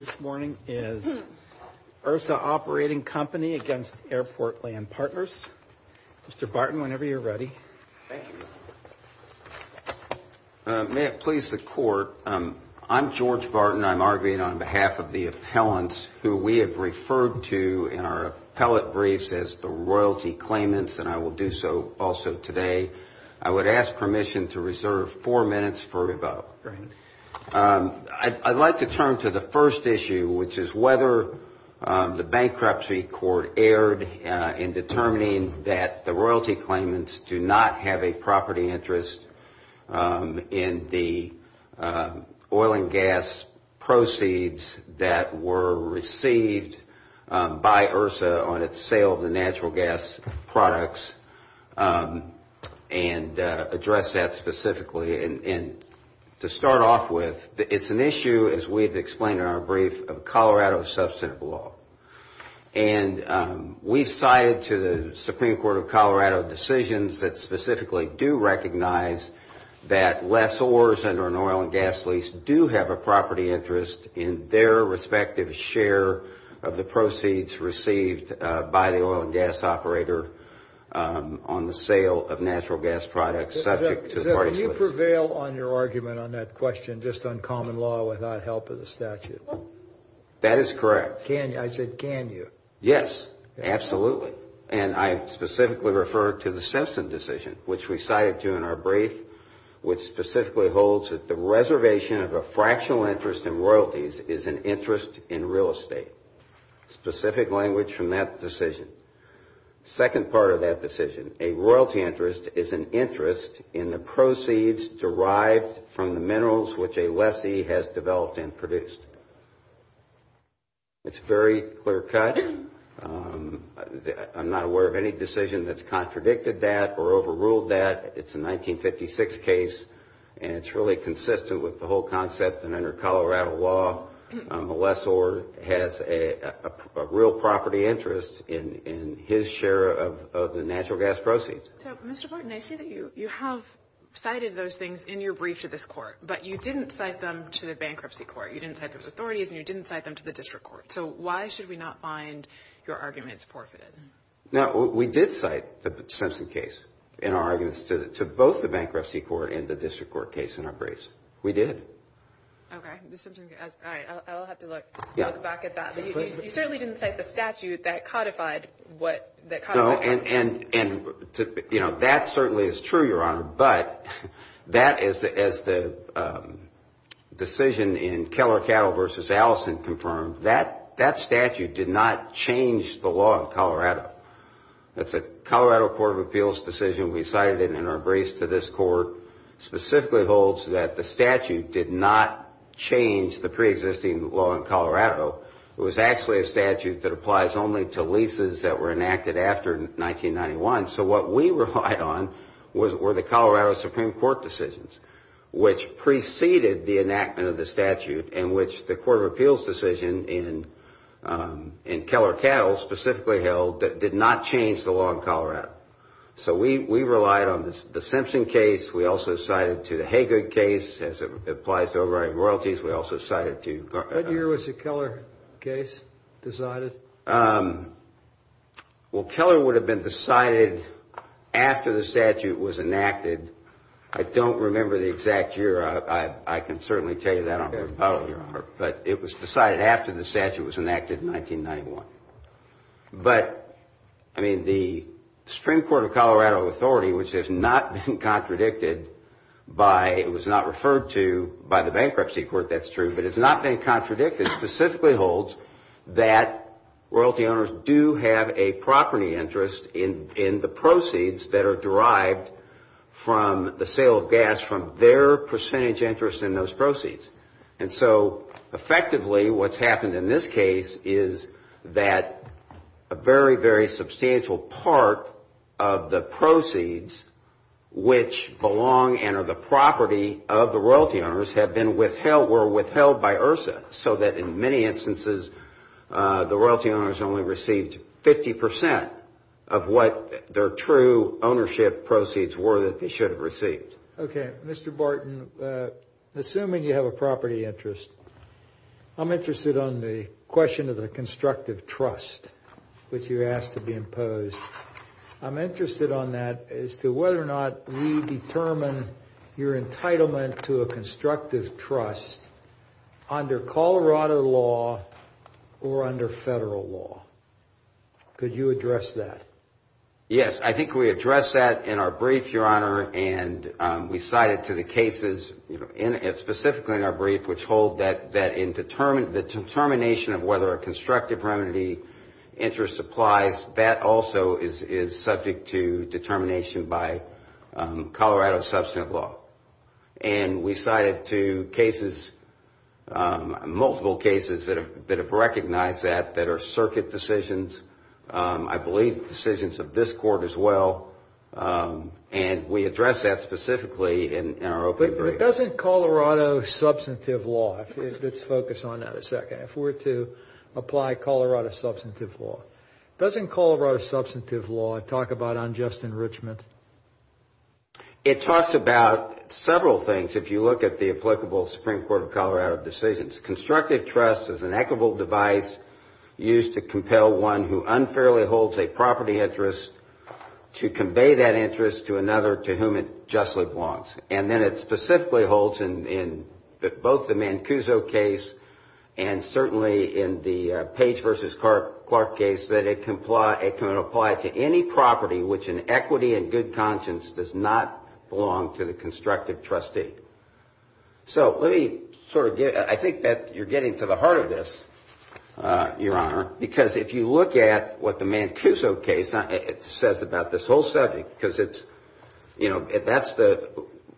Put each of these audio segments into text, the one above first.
This morning is URSA Operating Company against Airport Land Partners. Mr. Barton, whenever you're ready. Thank you. May it please the court, I'm George Barton. I'm arguing on behalf of the appellants who we have referred to in our appellate briefs as the royalty claimants, and I will do so also today. I would ask permission to reserve four minutes for rebuttal. Right. I'd like to turn to the first issue, which is whether the bankruptcy court erred in determining that the royalty claimants do not have a property interest in the oil and gas proceeds that were received by URSA on its sale of the natural gas products, and address that specifically. And to start off with, it's an issue, as we've explained in our brief, of Colorado substantive law. And we've cited to the Supreme Court of Colorado decisions that specifically do recognize that lessors under an oil and gas lease do have a property interest in their respective share of the proceeds received by the oil and gas operator on the sale of natural gas products Is that you prevail on your argument on that question, just on common law without help of the statute? That is correct. Can you? I said, can you? Yes. Absolutely. And I specifically refer to the Simpson decision, which we cited to in our brief, which specifically holds that the reservation of a fractional interest in royalties is an interest in real estate. Specific language from that decision. Second part of that decision, a royalty interest is an interest in the proceeds derived from the minerals which a lessee has developed and produced. It's very clear-cut. I'm not aware of any decision that's contradicted that or overruled that. It's a 1956 case, and it's really consistent with the whole concept that under Colorado law, a lessor has a real property interest in his share of the natural gas proceeds. So, Mr. Borton, I see that you have cited those things in your brief to this court, but you didn't cite them to the bankruptcy court. You didn't cite those authorities, and you didn't cite them to the district court. So why should we not find your arguments forfeited? Now, we did cite the Simpson case in our arguments to both the bankruptcy court and the district court case in our briefs. We did. Okay. The Simpson case. All right. I'll have to look back at that, but you certainly didn't cite the statute that codified what... No, and that certainly is true, Your Honor, but that is, as the decision in Keller Cattle versus Allison confirmed, that statute did not change the law in Colorado. That's a Colorado Court of Appeals decision. We cited it in our briefs to this court, specifically holds that the statute did not change the preexisting law in Colorado. It was actually a statute that applies only to leases that were enacted after 1991. So what we relied on were the Colorado Supreme Court decisions, which preceded the enactment of the statute, and which the Court of Appeals decision in Keller Cattle specifically held that did not change the law in Colorado. So we relied on the Simpson case. We also cited to the Haggard case, as it applies to overriding royalties. We also cited to... What year was the Keller case decided? Well, Keller would have been decided after the statute was enacted. I don't remember the exact year. I can certainly tell you that, but it was decided after the statute was enacted in 1991. But, I mean, the Supreme Court of Colorado Authority, which has not been contradicted by... It was not referred to by the Bankruptcy Court, that's true, but it's not been contradicted, specifically holds that royalty owners do have a property interest in the proceeds that are derived from the sale of gas from their percentage interest in those proceeds. And so, effectively, what's happened in this case is that a very, very substantial part of the proceeds which belong and are the property of the royalty owners have been withheld, were withheld by IHRSA, so that in many instances, the royalty owners only received 50 percent of what their true ownership proceeds were that they should have received. Okay. Mr. Barton, assuming you have a property interest, I'm interested on the question of the constructive trust which you asked to be imposed. I'm interested on that as to whether or not we determine your entitlement to a constructive trust under Colorado law or under federal law. Could you address that? Yes. I think we addressed that in our brief, Your Honor, and we cited to the cases, specifically in our brief, which hold that the determination of whether a constructive remedy interest applies, that also is subject to determination by Colorado Substantive Law. We cited to cases, multiple cases that have recognized that, that are circuit decisions. I believe decisions of this Court as well, and we address that specifically in our opening brief. But doesn't Colorado Substantive Law, let's focus on that a second, if we're to apply Colorado Substantive Law, doesn't Colorado Substantive Law talk about unjust enrichment? It talks about several things if you look at the applicable Supreme Court of Colorado decisions. Constructive trust is an equitable device used to compel one who unfairly holds a property interest to convey that interest to another to whom it justly belongs. And then it specifically holds in both the Mancuso case and certainly in the Page versus Clark case that it can apply to any property which in equity and good conscience does not belong to the constructive trustee. So, let me sort of get, I think that you're getting to the heart of this, Your Honor, because if you look at what the Mancuso case says about this whole subject, because it's, you know, that's the,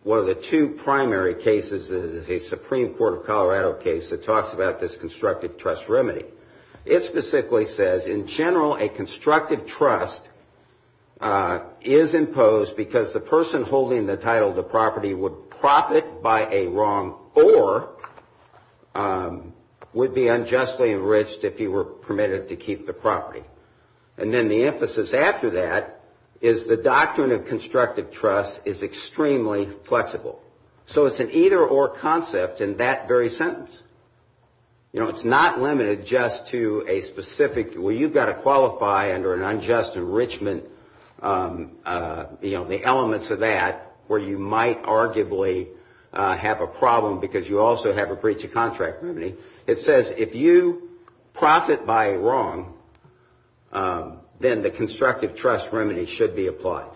one of the two primary cases, the Supreme Court of Colorado case that talks about this constructive trust remedy. It specifically says, in general, a constructive trust is imposed because the person holding the title of the property would profit by a wrong or would be unjustly enriched if he were permitted to keep the property. And then the emphasis after that is the doctrine of constructive trust is extremely flexible. So it's an either or concept in that very sentence. You know, it's not limited just to a specific, well, you've got to qualify under an unjust enrichment, you know, the elements of that where you might arguably have a problem because you also have a breach of contract remedy. It says if you profit by a wrong, then the constructive trust remedy should be applied.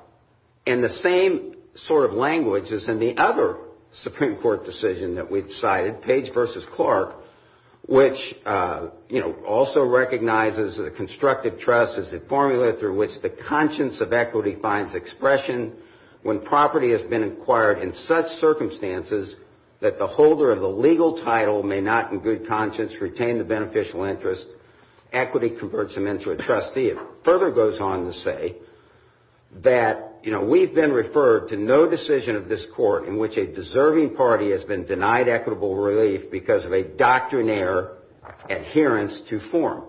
And the same sort of language is in the other Supreme Court decision that we've cited, Page v. Clark, which, you know, also recognizes that a constructive trust is a formula through which the conscience of equity finds expression when property has been acquired in such circumstances that the holder of the legal title may not in good conscience retain the beneficial interest, equity converts him into a trustee. It further goes on to say that, you know, we've been referred to no decision of this nature because of a doctrinaire adherence to form.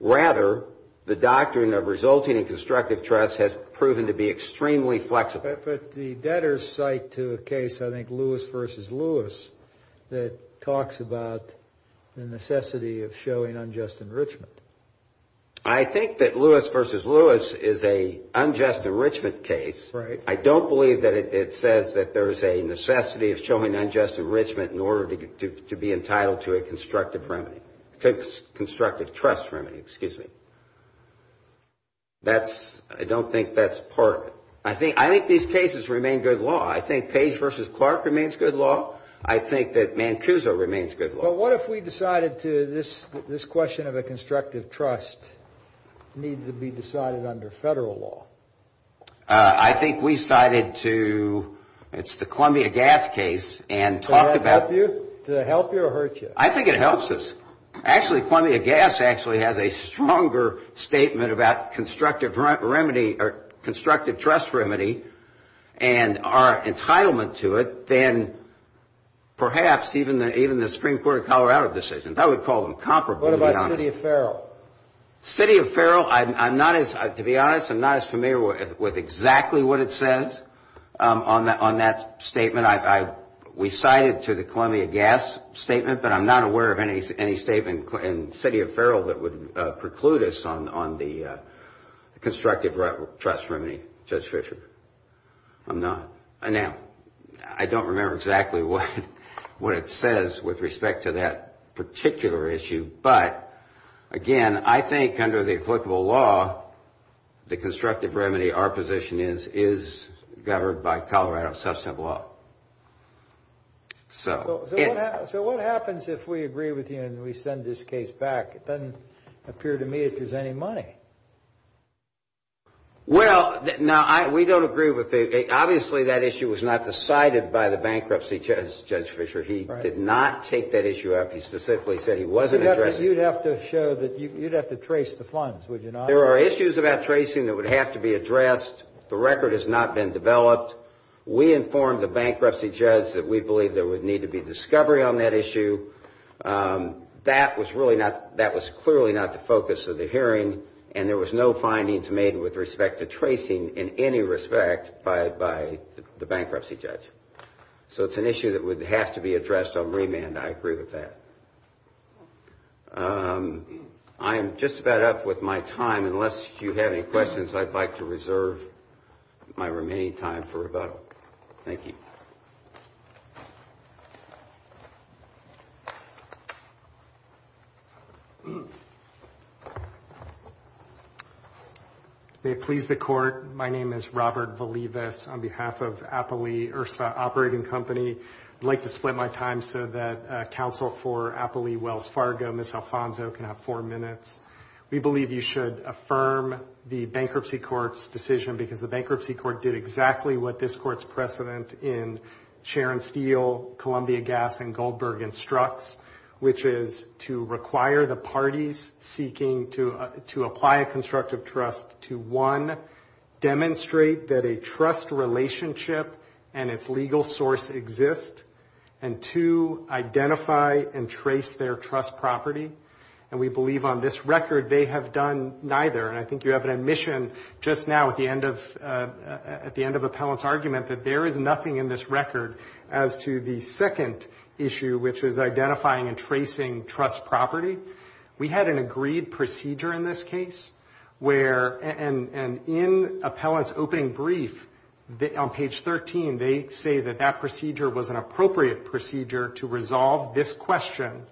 Rather, the doctrine of resulting in constructive trust has proven to be extremely flexible. But the debtors cite to a case, I think, Lewis v. Lewis, that talks about the necessity of showing unjust enrichment. I think that Lewis v. Lewis is a unjust enrichment case. I don't believe that it says that there is a necessity of showing unjust enrichment in order to be entitled to a constructive remedy, constructive trust remedy, excuse me. I don't think that's part of it. I think these cases remain good law. I think Page v. Clark remains good law. I think that Mancuso remains good law. But what if we decided to, this question of a constructive trust needs to be decided under Federal law? I think we cited to, it's the Columbia Gas case and talked about Does it help you or hurt you? I think it helps us. Actually Columbia Gas actually has a stronger statement about constructive remedy or constructive trust remedy and our entitlement to it than perhaps even the Supreme Court of Colorado decisions. I would call them comparable. What about City of Farrell? City of Farrell, I'm not as, to be honest, I'm not as familiar with exactly what it says on that statement. We cited to the Columbia Gas statement, but I'm not aware of any statement in City of Farrell that would preclude us on the constructive trust remedy, Judge Fischer. I'm not. Now, I don't remember exactly what it says with respect to that particular issue, but again, I think under the applicable law, the constructive remedy, our position is, is governed by Colorado substantive law. So what happens if we agree with you and we send this case back? It doesn't appear to me that there's any money. Well now, we don't agree with the, obviously that issue was not decided by the bankruptcy judge, Judge Fischer. He did not take that issue up. He specifically said he wasn't addressing it. You'd have to show that, you'd have to trace the funds, would you not? There are issues about tracing that would have to be addressed. The record has not been developed. We informed the bankruptcy judge that we believe there would need to be discovery on that issue. That was really not, that was clearly not the focus of the hearing, and there was no findings made with respect to tracing in any respect by the bankruptcy judge. So it's an issue that would have to be addressed on remand, I agree with that. I am just about up with my time. Unless you have any questions, I'd like to reserve my remaining time for rebuttal. Thank you. May it please the Court, my name is Robert Valivas on behalf of Appali, URSA Operating Company. I'd like to split my time so that counsel for Appali, Wells Fargo, Ms. Alfonso can have four minutes. We believe you should affirm the bankruptcy court's decision because the bankruptcy court did exactly what this court's precedent in Sharon Steel, Columbia Gas, and Goldberg instructs, which is to require the parties seeking to apply a constructive trust to one, demonstrate that a trust relationship and its legal source exist, and two, identify and trace their trust property. And we believe on this record they have done neither, and I think you have an admission just now at the end of Appellant's argument that there is nothing in this record as to the second issue, which is identifying and tracing trust property. We had an agreed procedure in this case where, and in Appellant's opening brief on page 13, they say that that procedure was an appropriate procedure to resolve this question.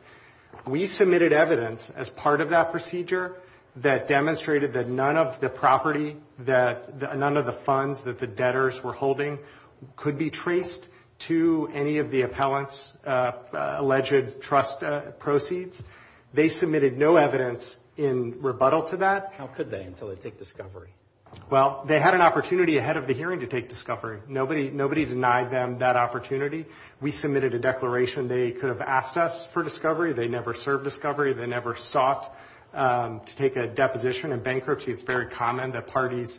We submitted evidence as part of that procedure that demonstrated that none of the property, none of the funds that the debtors were holding could be traced to any of the Appellant's alleged trust proceeds. They submitted no evidence in rebuttal to that. How could they until they take discovery? Well, they had an opportunity ahead of the hearing to take discovery. Nobody denied them that opportunity. We submitted a declaration. They could have asked us for discovery. They never served discovery. They never sought to take a deposition. In bankruptcy, it's very common that parties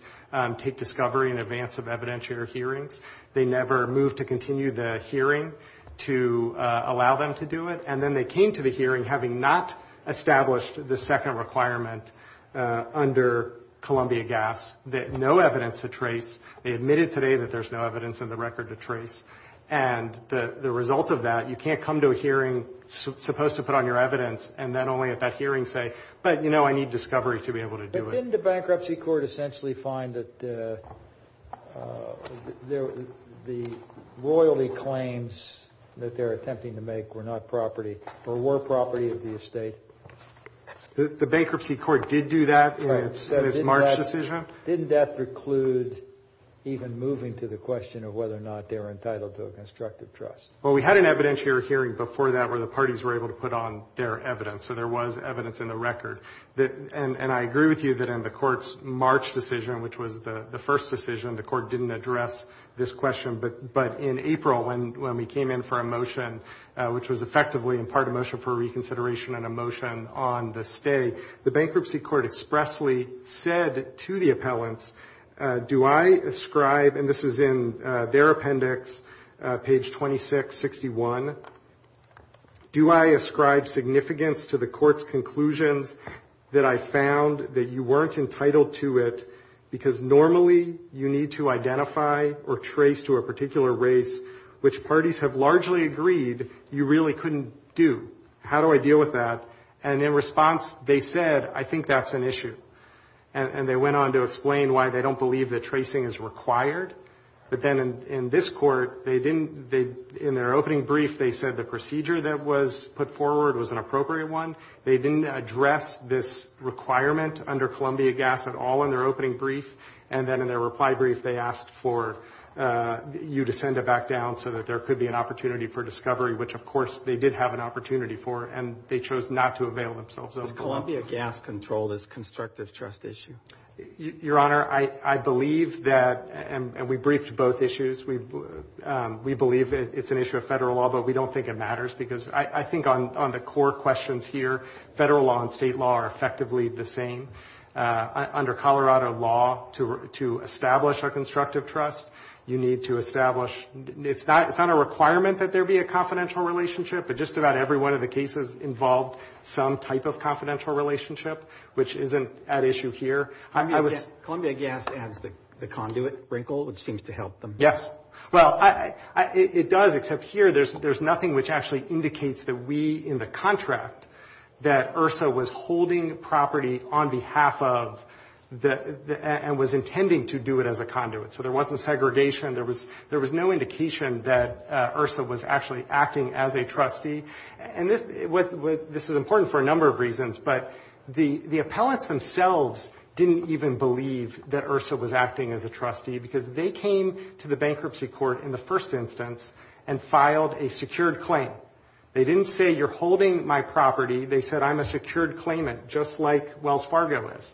take discovery in advance of evidentiary hearings. They never moved to continue the hearing to allow them to do it. And then they came to the hearing having not established the second requirement under Columbia Gas, that no evidence to trace. They admitted today that there's no evidence in the record to trace. And the result of that, you can't come to a hearing supposed to put on your evidence, and then only at that hearing say, but, you know, I need discovery to be able to do it. Didn't the bankruptcy court essentially find that the royalty claims that they're attempting to make were not property, or were property of the estate? The bankruptcy court did do that in its March decision. Didn't that preclude even moving to the question of whether or not they were entitled to a constructive trust? Well, we had an evidentiary hearing before that where the parties were able to put on their evidence. So there was evidence in the record. And I agree with you that in the court's March decision, which was the first decision, the court didn't address this question. But in April, when we came in for a motion, which was effectively in part a motion for reconsideration and a motion on the stay, the bankruptcy court expressly said to the appellants, do I ascribe, and this is in their appendix, page 2661, do I ascribe significance to the court's conclusions that I found that you weren't entitled to it because normally you need to identify or trace to a particular race, which parties have largely agreed you really couldn't do. How do I deal with that? And in response, they said, I think that's an issue. And they went on to explain why they don't believe that tracing is required. But then in this court, they didn't, in their opening brief, they said the procedure that was put forward was an appropriate one. They didn't address this requirement under Columbia Gas at all in their opening brief. And then in their reply brief, they asked for you to send it back down so that there could be an opportunity for discovery, which, of course, they did have an opportunity for, and they chose not to avail themselves of it. Does Columbia Gas control this constructive trust issue? Your Honor, I believe that, and we briefed both issues, we believe it's an issue of federal law, but we don't think it matters because I think on the court questions here, federal law and state law are effectively the same. Under Colorado law, to establish a constructive trust, you need to establish, it's not a requirement that there be a confidential relationship, but just about every one of the cases involved some type of confidential relationship, which isn't at issue here. Columbia Gas adds the conduit wrinkle, which seems to help them. Yes. Well, it does, except here there's nothing which actually indicates that we in the contract, that IHRSA was holding property on behalf of and was intending to do it as a conduit. So there wasn't segregation. There was no indication that IHRSA was actually acting as a trustee. And this is important for a number of reasons, but the appellants themselves didn't even believe that IHRSA was acting as a trustee because they came to the bankruptcy court in the first instance and filed a secured claim. They didn't say, you're holding my property. They said, I'm a secured claimant, just like Wells Fargo is.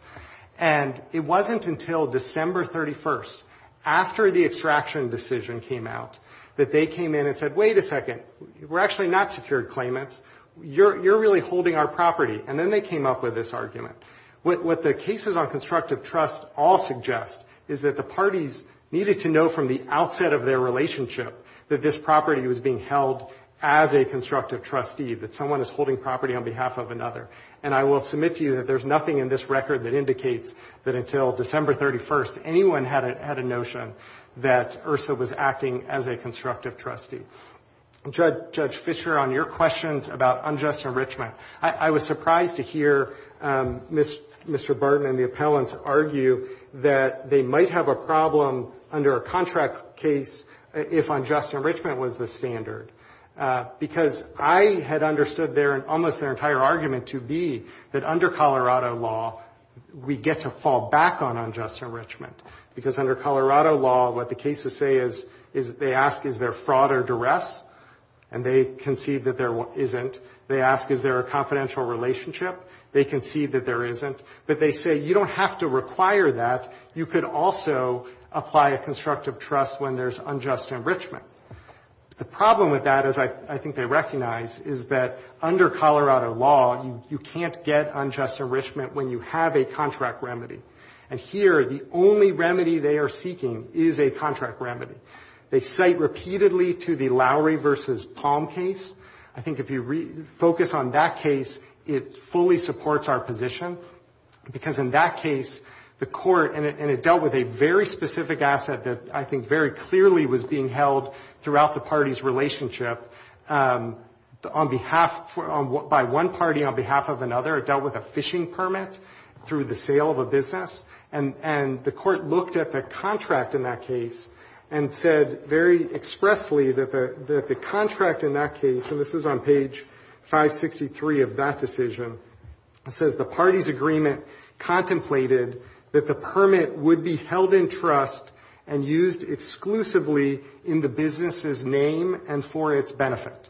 And it wasn't until December 31st, after the extraction decision came out, that they came in and said, wait a second, we're actually not secured claimants. You're really holding our property. And then they came up with this argument. What the cases on constructive trust all suggest is that the parties needed to know from the outset of their relationship that this property was being held as a constructive trustee, that someone is holding property on behalf of another. And I will submit to you that there's nothing in this record that indicates that until December 31st, anyone had a notion that IHRSA was acting as a constructive trustee. Judge Fischer, on your questions about unjust enrichment, I was surprised to hear Mr. Burton and the appellants argue that they might have a problem under a contract case if unjust enrichment was the standard. Because I had understood almost their entire argument to be that under Colorado law, we get to fall back on unjust enrichment. Because under Colorado law, what the cases say is they ask, is there fraud or duress? And they concede that there isn't. They ask, is there a confidential relationship? They concede that there isn't. But they say, you don't have to require that. You could also apply a constructive trust when there's unjust enrichment. The problem with that, as I think they recognize, is that under Colorado law, you can't get unjust enrichment when you have a contract remedy. And here, the only remedy they are seeking is a contract remedy. They cite repeatedly to the Lowry v. Palm case. I think if you focus on that case, it fully supports our position. Because in that case, the court, and it dealt with a very specific asset that I think very clearly was being held throughout the party's relationship. On behalf, by one party on behalf of another, it dealt with a fishing permit through the sale of a business. And the court looked at the contract in that case and said very expressly that the contract in that case, and this is on page 563 of that decision, it says, the party's agreement contemplated that the permit would be held in trust and used exclusively in the business's name and for its benefit.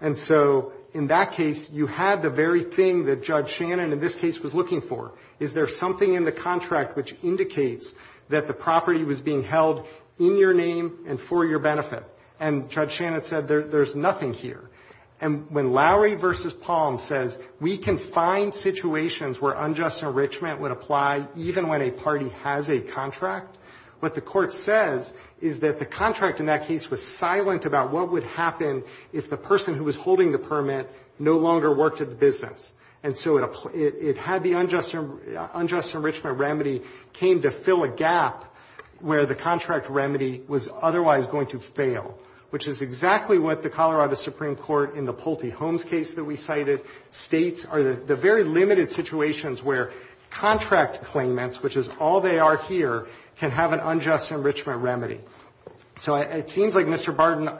And so in that case, you had the very thing that Judge Shannon in this case was looking for. Is there something in the contract which indicates that the property was being held in your name and for your benefit? And Judge Shannon said, there's nothing here. And when Lowry v. Palm says we can find situations where unjust enrichment would apply even when a party has a contract, what the court says is that the contract in that case was silent about what would happen if the person who was holding the permit no longer worked at the business. And so it had the unjust enrichment remedy came to fill a gap where the contract remedy was otherwise going to fail, which is exactly what the Colorado Supreme Court in the Pulte Holmes case that we cited states are the very limited situations where contract claimants, which is all they are here, can have an unjust enrichment remedy. So it seems like Mr. Barden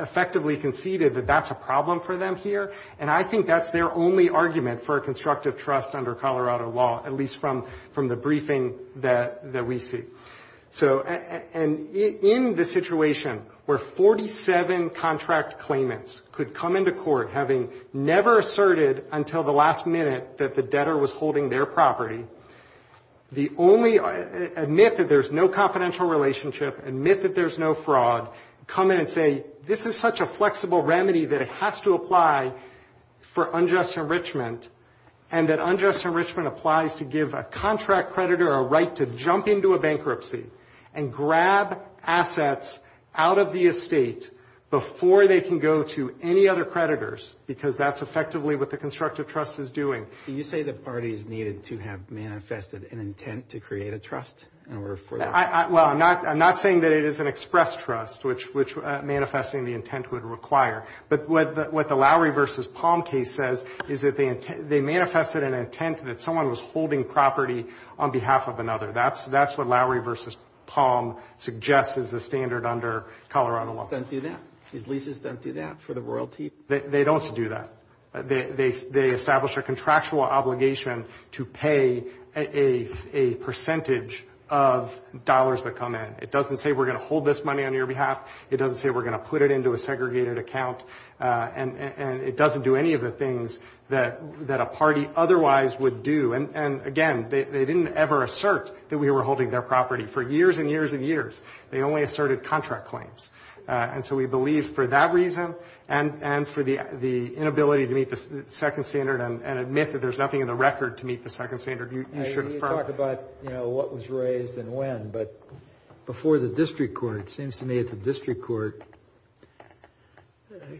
effectively conceded that that's a problem for them here, and I think that's their only argument for a constructive trust under Colorado law, at least from the briefing that we see. So in the situation where 47 contract claimants could come into court having never asserted until the last minute that the debtor was holding their property, the only admit that there's no confidential relationship, admit that there's no fraud, come in and say this is such a flexible remedy that it has to apply for unjust enrichment, and that unjust enrichment applies to give a contract creditor a right to jump into a bankruptcy and grab assets out of the estate before they can go to any other creditors, because that's effectively what the constructive trust is doing. Do you say the parties needed to have manifested an intent to create a trust? Well, I'm not saying that it is an express trust, which manifesting the intent would require. But what the Lowry v. Palm case says is that they manifested an intent that someone was holding property on behalf of another. That's what Lowry v. Palm suggests is the standard under Colorado law. They don't do that? These leases don't do that for the royalty? They don't do that. They establish a contractual obligation to pay a percentage of dollars that come in. It doesn't say we're going to hold this money on your behalf. It doesn't say we're going to put it into a segregated account. And it doesn't do any of the things that a party otherwise would do. And, again, they didn't ever assert that we were holding their property. For years and years and years, they only asserted contract claims. And so we believe for that reason and for the inability to meet the second standard and admit that there's nothing in the record to meet the second standard, you should affirm. You talk about, you know, what was raised and when. But before the district court, it seems to me that the district court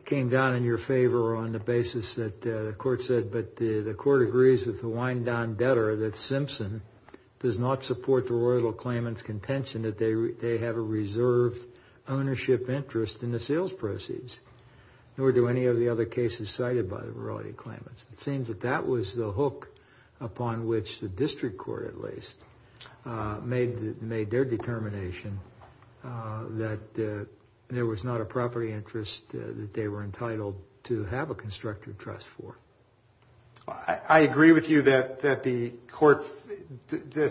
came down in your favor on the basis that the court said, but the court agrees with the wind-down debtor that Simpson does not support the royalty claimant's contention that they have a reserved ownership interest in the sales proceeds, nor do any of the other cases cited by the royalty claimants. It seems that that was the hook upon which the district court, at least, made their determination that there was not a property interest that they were entitled to have a constructive trust for. I agree with you that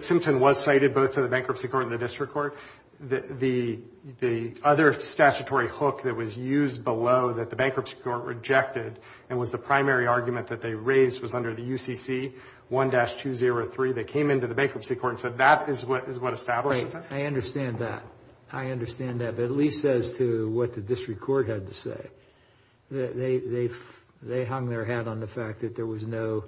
Simpson was cited both in the bankruptcy court and the district court. The other statutory hook that was used below that the bankruptcy court rejected and was the primary argument that they raised was under the UCC 1-203. They came into the bankruptcy court and said that is what establishes it. I understand that. I understand that. But at least as to what the district court had to say, they hung their hat on the fact that there was no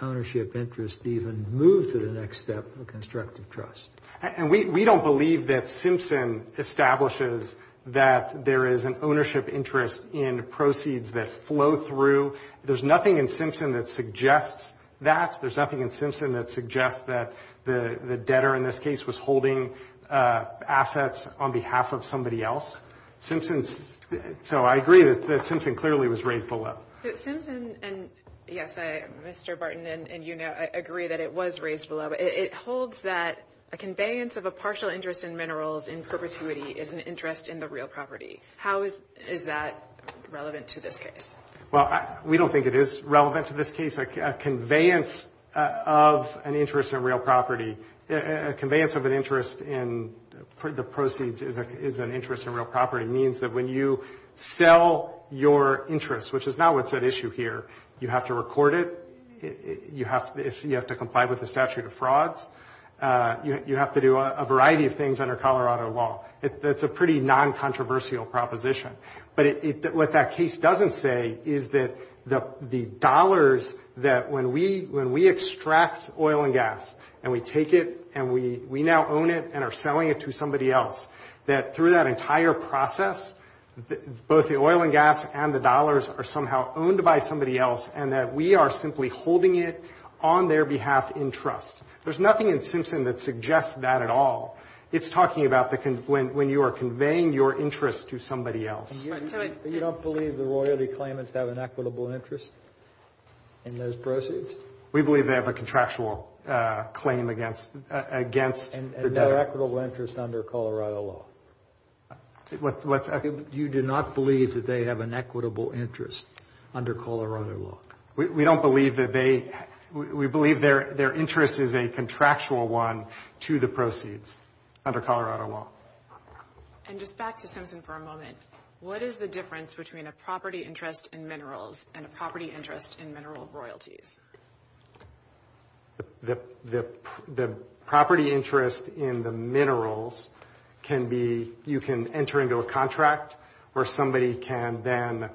ownership interest to even move to the next step of a constructive trust. And we don't believe that Simpson establishes that there is an ownership interest in the property. So there's nothing in Simpson that suggests that. There's nothing in Simpson that suggests that the debtor in this case was holding assets on behalf of somebody else. Simpson's so I agree that Simpson clearly was raised below. Simpson and, yes, Mr. Barton and you know, I agree that it was raised below. It holds that a conveyance of a partial interest in minerals in perpetuity is an interest in the real property. How is that relevant to this case? Well, we don't think it is relevant to this case. A conveyance of an interest in real property, a conveyance of an interest in the proceeds is an interest in real property means that when you sell your interest, which is not what's at issue here, you have to record it. You have to comply with the statute of frauds. You have to do a variety of things under Colorado law. That's a pretty non-controversial proposition. But what that case doesn't say is that the dollars that when we extract oil and gas and we take it and we now own it and are selling it to somebody else, that through that entire process, both the oil and gas and the dollars are somehow owned by somebody else and that we are simply holding it on their behalf in trust. There's nothing in Simpson that suggests that at all. It's talking about when you are conveying your interest to somebody else. But you don't believe the royalty claimants have an equitable interest in those proceeds? We believe they have a contractual claim against the debtor. And they're equitable interest under Colorado law? You do not believe that they have an equitable interest under Colorado law? We don't believe that they we believe their interest is a contractual one to the proceeds. Under Colorado law. And just back to Simpson for a moment. What is the difference between a property interest in minerals and a property interest in mineral royalties? The property interest in the minerals can be, you can enter into a contract where somebody can then,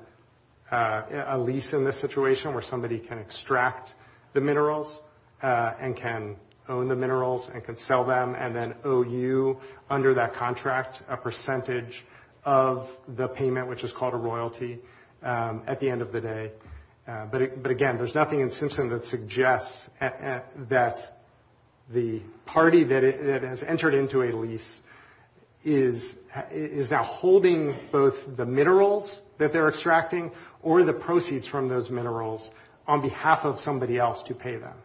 a lease in this situation where somebody can extract the minerals and can own the minerals and can sell them and then owe you under that contract a percentage of the payment which is called a royalty at the end of the day. But again, there's nothing in Simpson that suggests that the party that has entered into a lease is now holding both the minerals that they're extracting or the proceeds from those minerals on behalf of somebody else to pay them.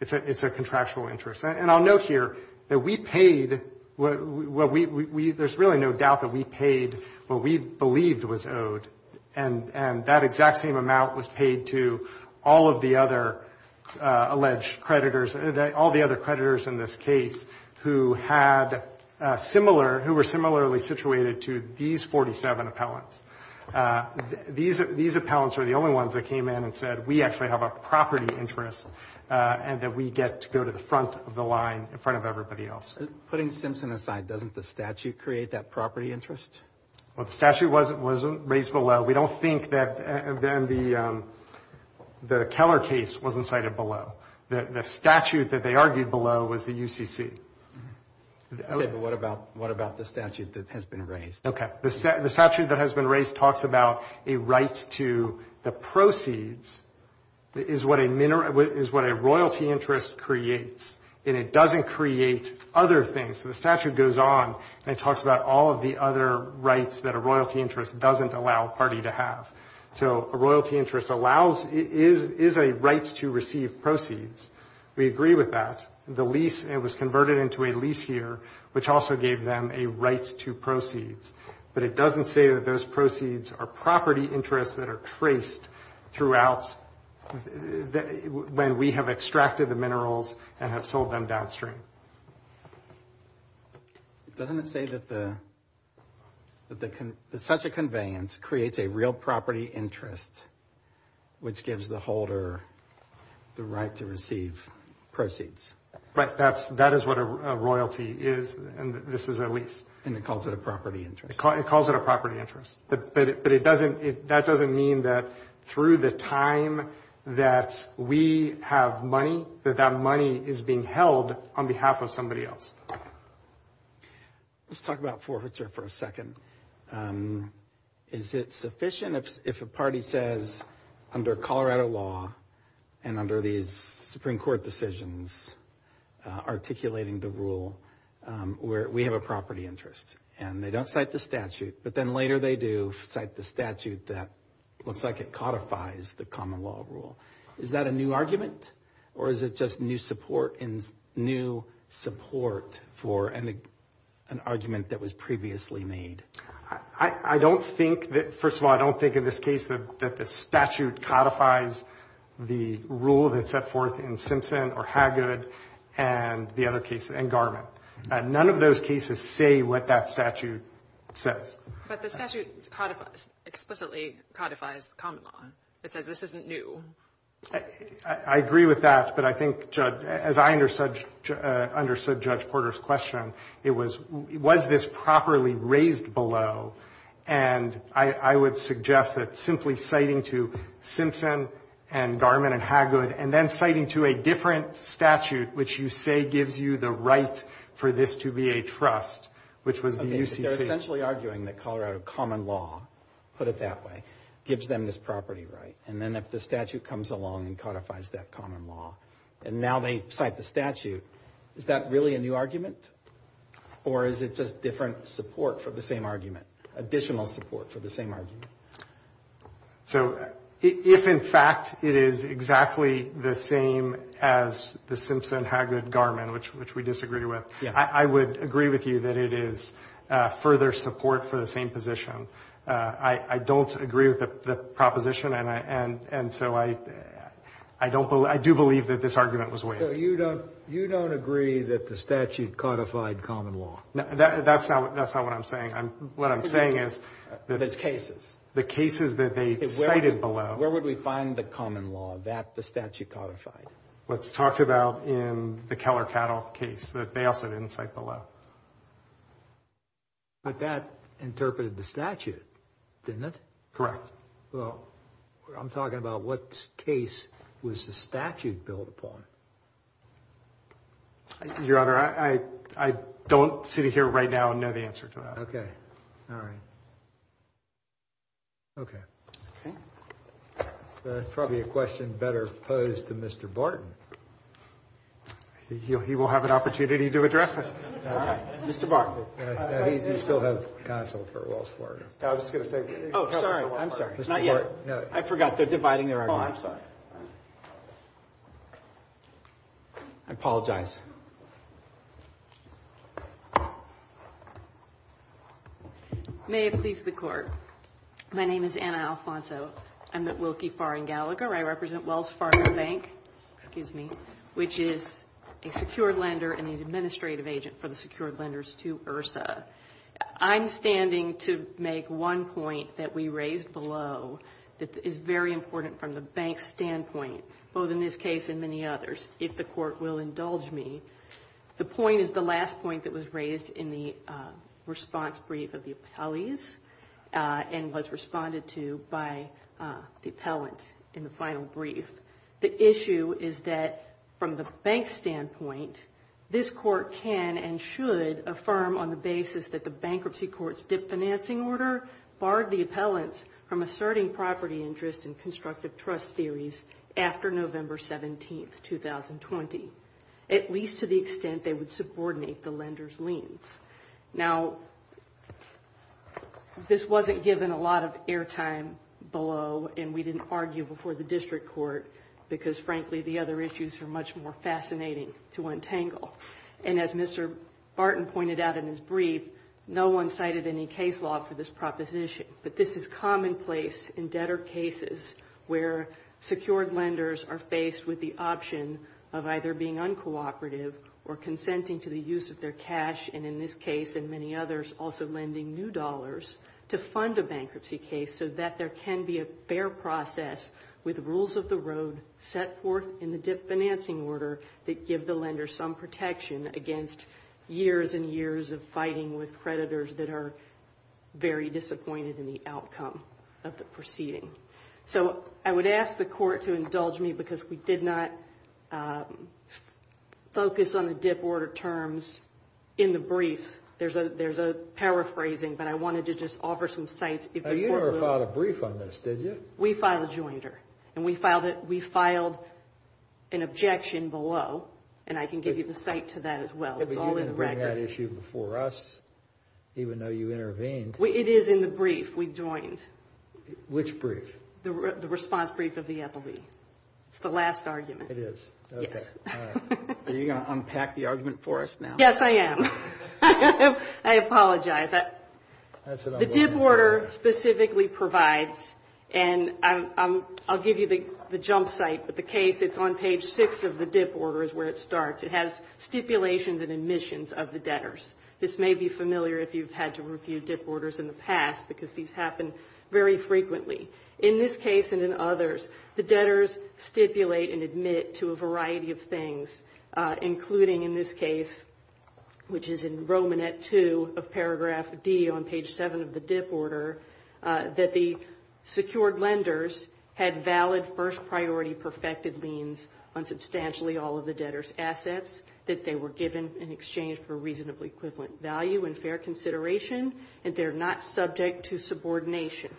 It's a contractual interest. And I'll note here that we paid what we, there's really no doubt that we paid what we believed was owed. And that exact same amount was paid to all of the other alleged creditors, all the other creditors in this case who had similar, who were similarly situated to these 47 appellants. These appellants are the only ones that came in and said we actually have a property interest and that we get to go to the front of the line in front of everybody else. Putting Simpson aside, doesn't the statute create that property interest? Well, the statute was raised below. We don't think that then the Keller case wasn't cited below. The statute that they argued below was the UCC. Okay, but what about the statute that has been raised? Okay. The statute that has been raised talks about a right to the proceeds is what a royalty interest creates, and it doesn't create other things. So the statute goes on and it talks about all of the other rights that a royalty interest doesn't allow a party to have. So a royalty interest allows, is a right to receive proceeds. We agree with that. The lease, it was converted into a lease here, which also gave them a right to proceeds. But it doesn't say that those proceeds are property interests that are traced throughout when we have extracted the minerals and have sold them downstream. Doesn't it say that such a conveyance creates a real property interest, which gives the That is what a royalty is, and this is a lease. And it calls it a property interest. It calls it a property interest. But that doesn't mean that through the time that we have money, that that money is being held on behalf of somebody else. Let's talk about forfeiture for a second. Is it sufficient if a party says under Colorado law and under these Supreme Court decisions articulating the rule where we have a property interest and they don't cite the statute, but then later they do cite the statute that looks like it codifies the common law rule. Is that a new argument or is it just new support for an argument that was previously made? I don't think that, first of all, I don't think in this case that the statute codifies the rule that's set forth in Simpson or Haggad and the other cases, and Garment. None of those cases say what that statute says. But the statute explicitly codifies the common law. It says this isn't new. I agree with that, but I think, Judge, as I understood Judge Porter's question, it was, was this properly raised below, and I would suggest that simply citing to Simpson and Garment and Haggad and then citing to a different statute which you say gives you the right for this to be a trust, which was the UCC. Okay, but they're essentially arguing that Colorado common law, put it that way, gives them this property right. And then if the statute comes along and codifies that common law and now they cite the statute, is that really a new argument, or is it just different support for the same argument, additional support for the same argument? So if, in fact, it is exactly the same as the Simpson-Haggad-Garment, which we disagree with, I would agree with you that it is further support for the same position. I don't agree with the proposition, and so I do believe that this argument was waived. So you don't agree that the statute codified common law? That's not what I'm saying. What I'm saying is that the cases that they cited below. Where would we find the common law that the statute codified? What's talked about in the Keller Cattle case that they also didn't cite below. But that interpreted the statute, didn't it? Correct. Well, I'm talking about what case was the statute built upon. Your Honor, I don't sit here right now and know the answer to that. Okay. All right. Okay. Okay. That's probably a question better posed to Mr. Barton. He will have an opportunity to address that. Mr. Barton. He still has counsel for Wells Fargo. Oh, sorry. I'm sorry. Not yet. I forgot. They're dividing their argument. Oh, I'm sorry. I apologize. May it please the Court. My name is Anna Alfonso. I'm at Wilkie Far and Gallagher. I represent Wells Fargo Bank, which is a secured lender and an administrative agent for the secured lenders to IHRSA. I'm standing to make one point that we raised below that is very important from the bank's standpoint, both in this case and many others, if the Court will indulge me. The point is the last point that was raised in the response brief of the appellees and was responded to by the appellant in the final brief. The issue is that from the bank's standpoint, this Court can and should affirm on the basis that the bankruptcy court's dip financing order barred the appellants from asserting property interest in constructive trust theories after November 17, 2020, at least to the extent they would subordinate the lender's liens. Now, this wasn't given a lot of airtime below, and we didn't argue before the district court, because, frankly, the other issues are much more fascinating to untangle. And as Mr. Barton pointed out in his brief, no one cited any case law for this proposition. But this is commonplace in debtor cases where secured lenders are faced with the option of either being uncooperative or consenting to the use of their cash and, in this case and many others, also lending new dollars to fund a bankruptcy case so that there can be a fair process with rules of the road set forth in the dip financing order that give the lender some protection against years and years of fighting with creditors that are very disappointed in the outcome of the proceeding. So I would ask the court to indulge me because we did not focus on the dip order terms in the brief. There's a paraphrasing, but I wanted to just offer some sites. You never filed a brief on this, did you? We filed a jointer, and we filed an objection below, and I can give you the site to that as well. It's all in the record. But you didn't bring that issue before us, even though you intervened. It is in the brief we joined. Which brief? The response brief of the appellee. It's the last argument. It is? Yes. Are you going to unpack the argument for us now? Yes, I am. I apologize. The dip order specifically provides, and I'll give you the jump site, but the case, it's on page 6 of the dip order is where it starts. It has stipulations and admissions of the debtors. This may be familiar if you've had to review dip orders in the past because these happen very frequently. In this case and in others, the debtors stipulate and admit to a variety of things, including in this case, which is in Roman at 2 of paragraph D on page 7 of the dip order, that the secured lenders had valid first priority perfected liens on substantially all of the debtors' assets that they were given in exchange for reasonably equivalent value and fair consideration, and they're not subject to subordination.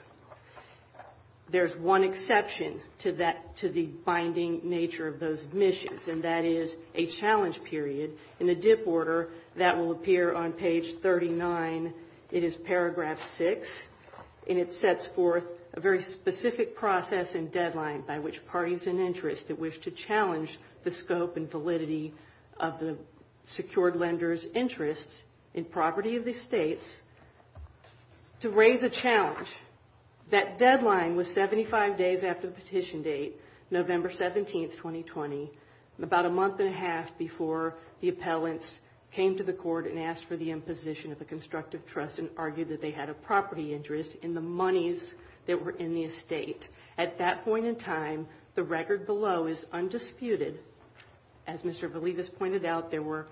There's one exception to the binding nature of those admissions, and that is a challenge period. In the dip order, that will appear on page 39. It is paragraph 6, and it sets forth a very specific process and deadline by which parties in interest that wish to challenge the scope and validity of the secured lenders' interests in property of the estates to raise a challenge. That deadline was 75 days after the petition date, November 17, 2020, about a month and a half before the appellants came to the court and asked for the imposition of a constructive trust and argued that they had a property interest in the monies that were in the estate. At that point in time, the record below is undisputed. As Mr. Belivas pointed out, there were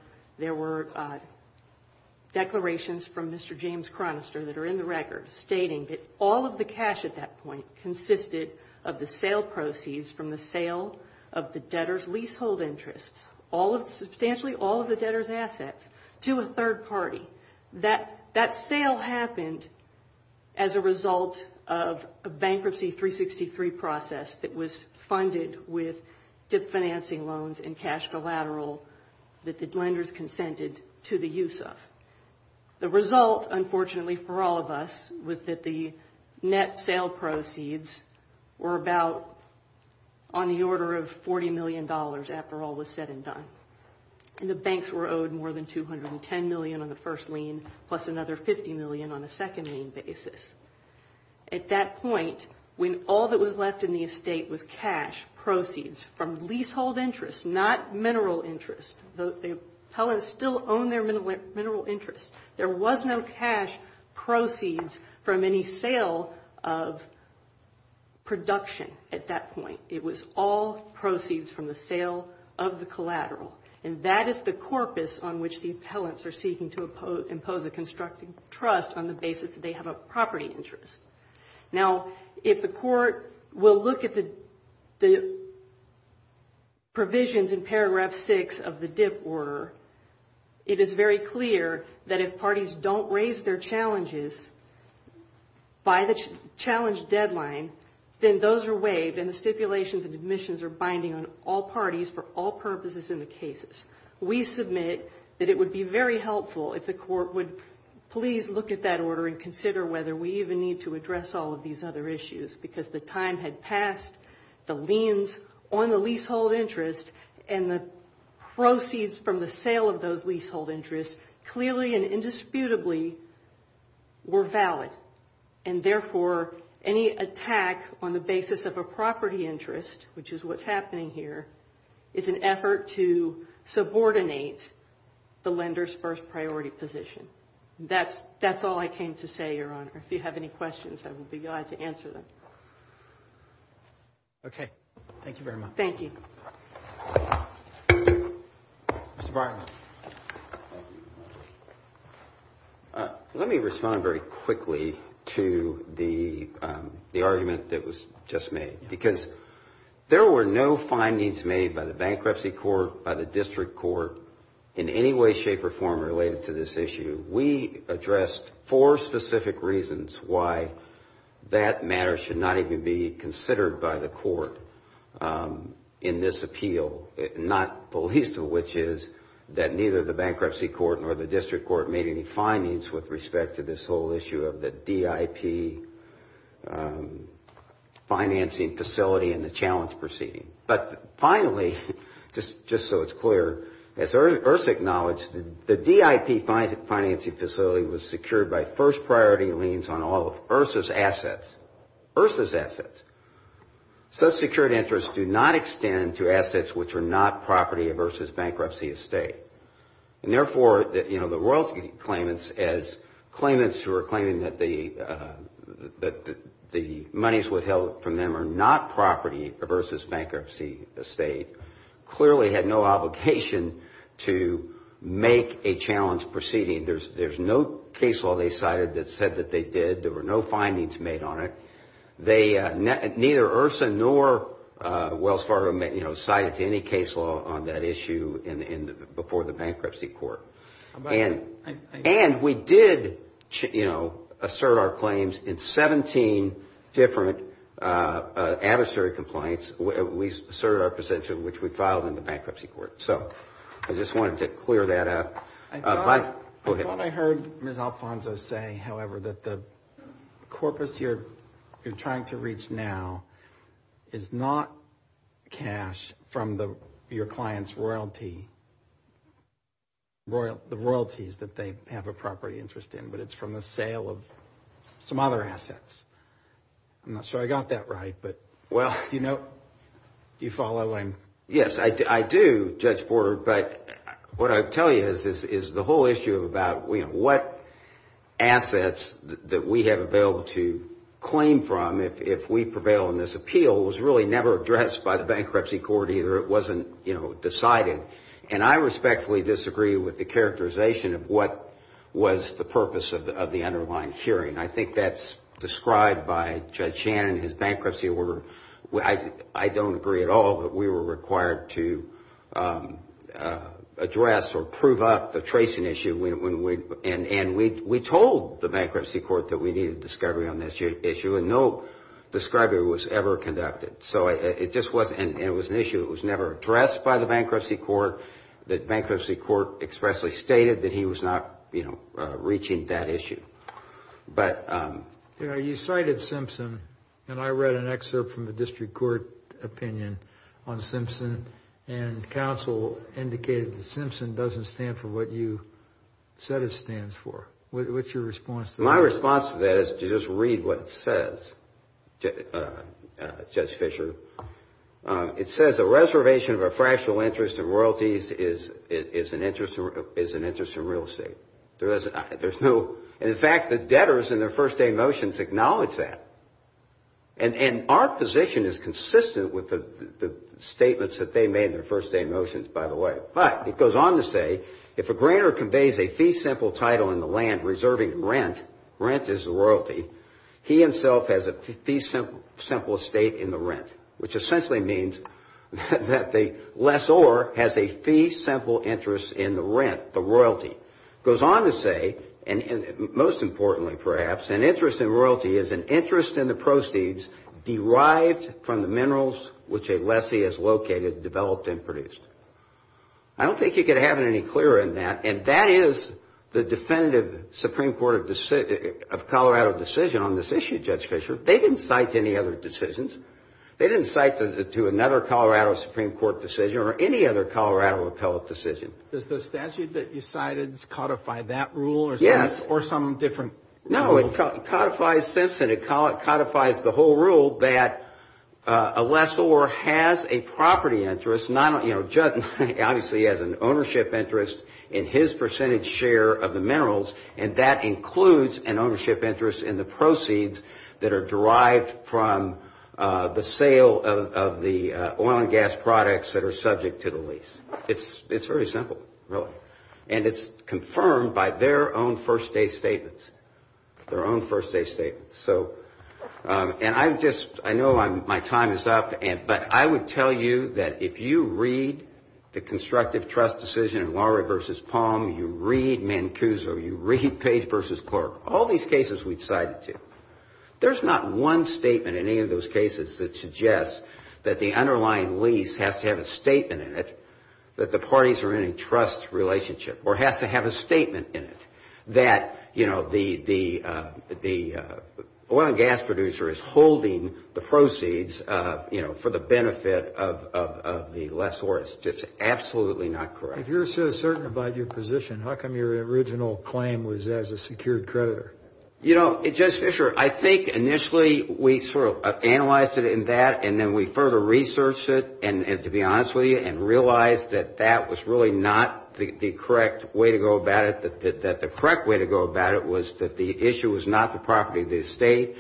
declarations from Mr. James Chronister that are in the record stating that all of the cash at that point consisted of the sale proceeds from the sale of the debtors' leasehold interests, substantially all of the debtors' assets, to a third party. That sale happened as a result of a Bankruptcy 363 process that was funded with dip financing loans and cash collateral that the lenders consented to the use of. The result, unfortunately for all of us, was that the net sale proceeds were about on the order of $40 million after all was said and done. And the banks were owed more than $210 million on the first lien, plus another $50 million on a second lien basis. At that point, when all that was left in the estate was cash proceeds from leasehold interests, not mineral interests, the appellants still owned their mineral interests. There was no cash proceeds from any sale of production at that point. It was all proceeds from the sale of the collateral. And that is the corpus on which the appellants are seeking to impose a constructive trust on the basis that they have a property interest. Now, if the Court will look at the provisions in paragraph 6 of the dip order, it is very clear that if parties don't raise their challenges by the challenge deadline, then those are waived and the stipulations and admissions are binding on all parties for all purposes in the cases. We submit that it would be very helpful if the Court would please look at that order and consider whether we even need to address all of these other issues, because the time had passed, the liens on the leasehold interest and the proceeds from the sale of those leasehold interests clearly and indisputably were valid. And therefore, any attack on the basis of a property interest, which is what's happening here, is an effort to subordinate the lender's first priority position. That's all I came to say, Your Honor. If you have any questions, I would be glad to answer them. Okay. Thank you very much. Thank you. Mr. Bartlett. Thank you, Your Honor. Let me respond very quickly to the argument that was just made, because there were no findings made by the Bankruptcy Court, by the District Court, in any way, shape, or form related to this issue. We addressed four specific reasons why that matter should not even be considered by the Court in this appeal, not the least of which is that neither the Bankruptcy Court nor the District Court made any findings with respect to this whole issue of the DIP financing facility and the challenge proceeding. But finally, just so it's clear, as IHRSA acknowledged, the DIP financing facility was secured by first priority liens on all of IHRSA's assets. IHRSA's assets. Such secured interests do not extend to assets which are not property versus bankruptcy estate. Therefore, the royalty claimants, as claimants who are claiming that the monies withheld from them are not property versus bankruptcy estate, clearly had no obligation to make a challenge proceeding. There's no case law they cited that said that they did. There were no findings made on it. Neither IHRSA nor Wells Fargo cited any case law on that issue before the Bankruptcy Court. And we did assert our claims in 17 different adversary compliance. We asserted our position, which we filed in the Bankruptcy Court. So I just wanted to clear that up. I thought I heard Ms. Alfonso say, however, that the corpus you're trying to reach now is not cash from your client's royalty, the royalties that they have a property interest in, but it's from the sale of some other assets. I'm not sure I got that right, but do you follow? Yes, I do, Judge Porter. But what I tell you is the whole issue about what assets that we have available to claim from if we prevail in this appeal was really never addressed by the Bankruptcy Court either. It wasn't decided. And I respectfully disagree with the characterization of what was the purpose of the underlying hearing. I think that's described by Judge Shannon, his bankruptcy order. I don't agree at all that we were required to address or prove up the tracing issue. And we told the Bankruptcy Court that we needed discovery on this issue, and no discovery was ever conducted. And it was an issue that was never addressed by the Bankruptcy Court. The Bankruptcy Court expressly stated that he was not reaching that issue. You cited Simpson, and I read an excerpt from the district court opinion on Simpson, and counsel indicated that Simpson doesn't stand for what you said it stands for. What's your response to that? My response to that is to just read what it says, Judge Fisher. It says a reservation of a fractional interest in royalties is an interest in real estate. And, in fact, the debtors in their first day motions acknowledge that. And our position is consistent with the statements that they made in their first day motions, by the way. But it goes on to say, if a grantor conveys a fee-simple title in the land reserving rent, rent is royalty, he himself has a fee-simple estate in the rent, which essentially means that the lessor has a fee-simple interest in the rent, the royalty. It goes on to say, and most importantly, perhaps, an interest in royalty is an interest in the proceeds derived from the minerals which a lessee has located, developed, and produced. I don't think you could have it any clearer than that, and that is the definitive Supreme Court of Colorado decision on this issue, Judge Fisher. They didn't cite any other decisions. They didn't cite to another Colorado Supreme Court decision or any other Colorado appellate decision. Does the statute that you cited codify that rule or some different rule? No, it codifies Simpson. It codifies the whole rule that a lessor has a property interest, obviously has an ownership interest in his percentage share of the minerals, and that includes an ownership interest in the proceeds that are derived from the sale of the oil and gas products that are subject to the lease. It's very simple, really, and it's confirmed by their own first-day statements, their own first-day statements. So, and I just, I know my time is up, but I would tell you that if you read the constructive trust decision in Lawry v. Palm, you read Mancuso, you read Page v. Clark, all these cases we cited to, there's not one statement in any of those cases that suggests that the underlying lease has to have a statement in it that the parties are in a trust relationship or has to have a statement in it that, you know, the oil and gas producer is holding the proceeds, you know, for the benefit of the lessor. It's just absolutely not correct. If you're so certain about your position, how come your original claim was as a secured creditor? You know, Judge Fischer, I think initially we sort of analyzed it in that, and then we further researched it, and to be honest with you, and realized that that was really not the correct way to go about it, that the correct way to go about it was that the issue was not the property of the estate.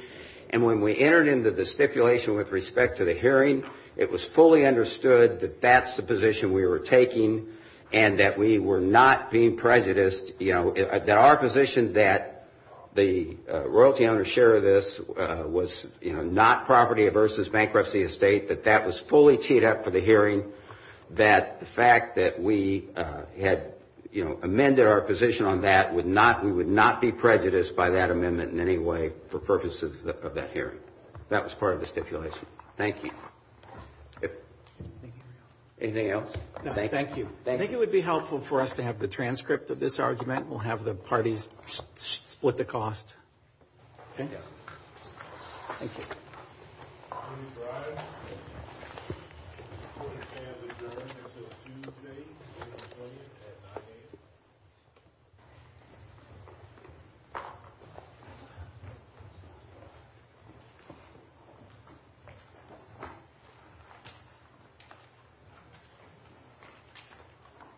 And when we entered into the stipulation with respect to the hearing, it was fully understood that that's the position we were taking and that we were not being prejudiced, you know, that our position that the royalty owner share of this was, you know, not property versus bankruptcy estate, that that was fully teed up for the hearing, that the fact that we had, you know, amended our position on that would not, we would not be prejudiced by that amendment in any way for purposes of that hearing. That was part of the stipulation. Thank you. Anything else? No, thank you. I think it would be helpful for us to have the transcript of this argument. We'll have the parties split the cost. Okay. Thank you. Please rise.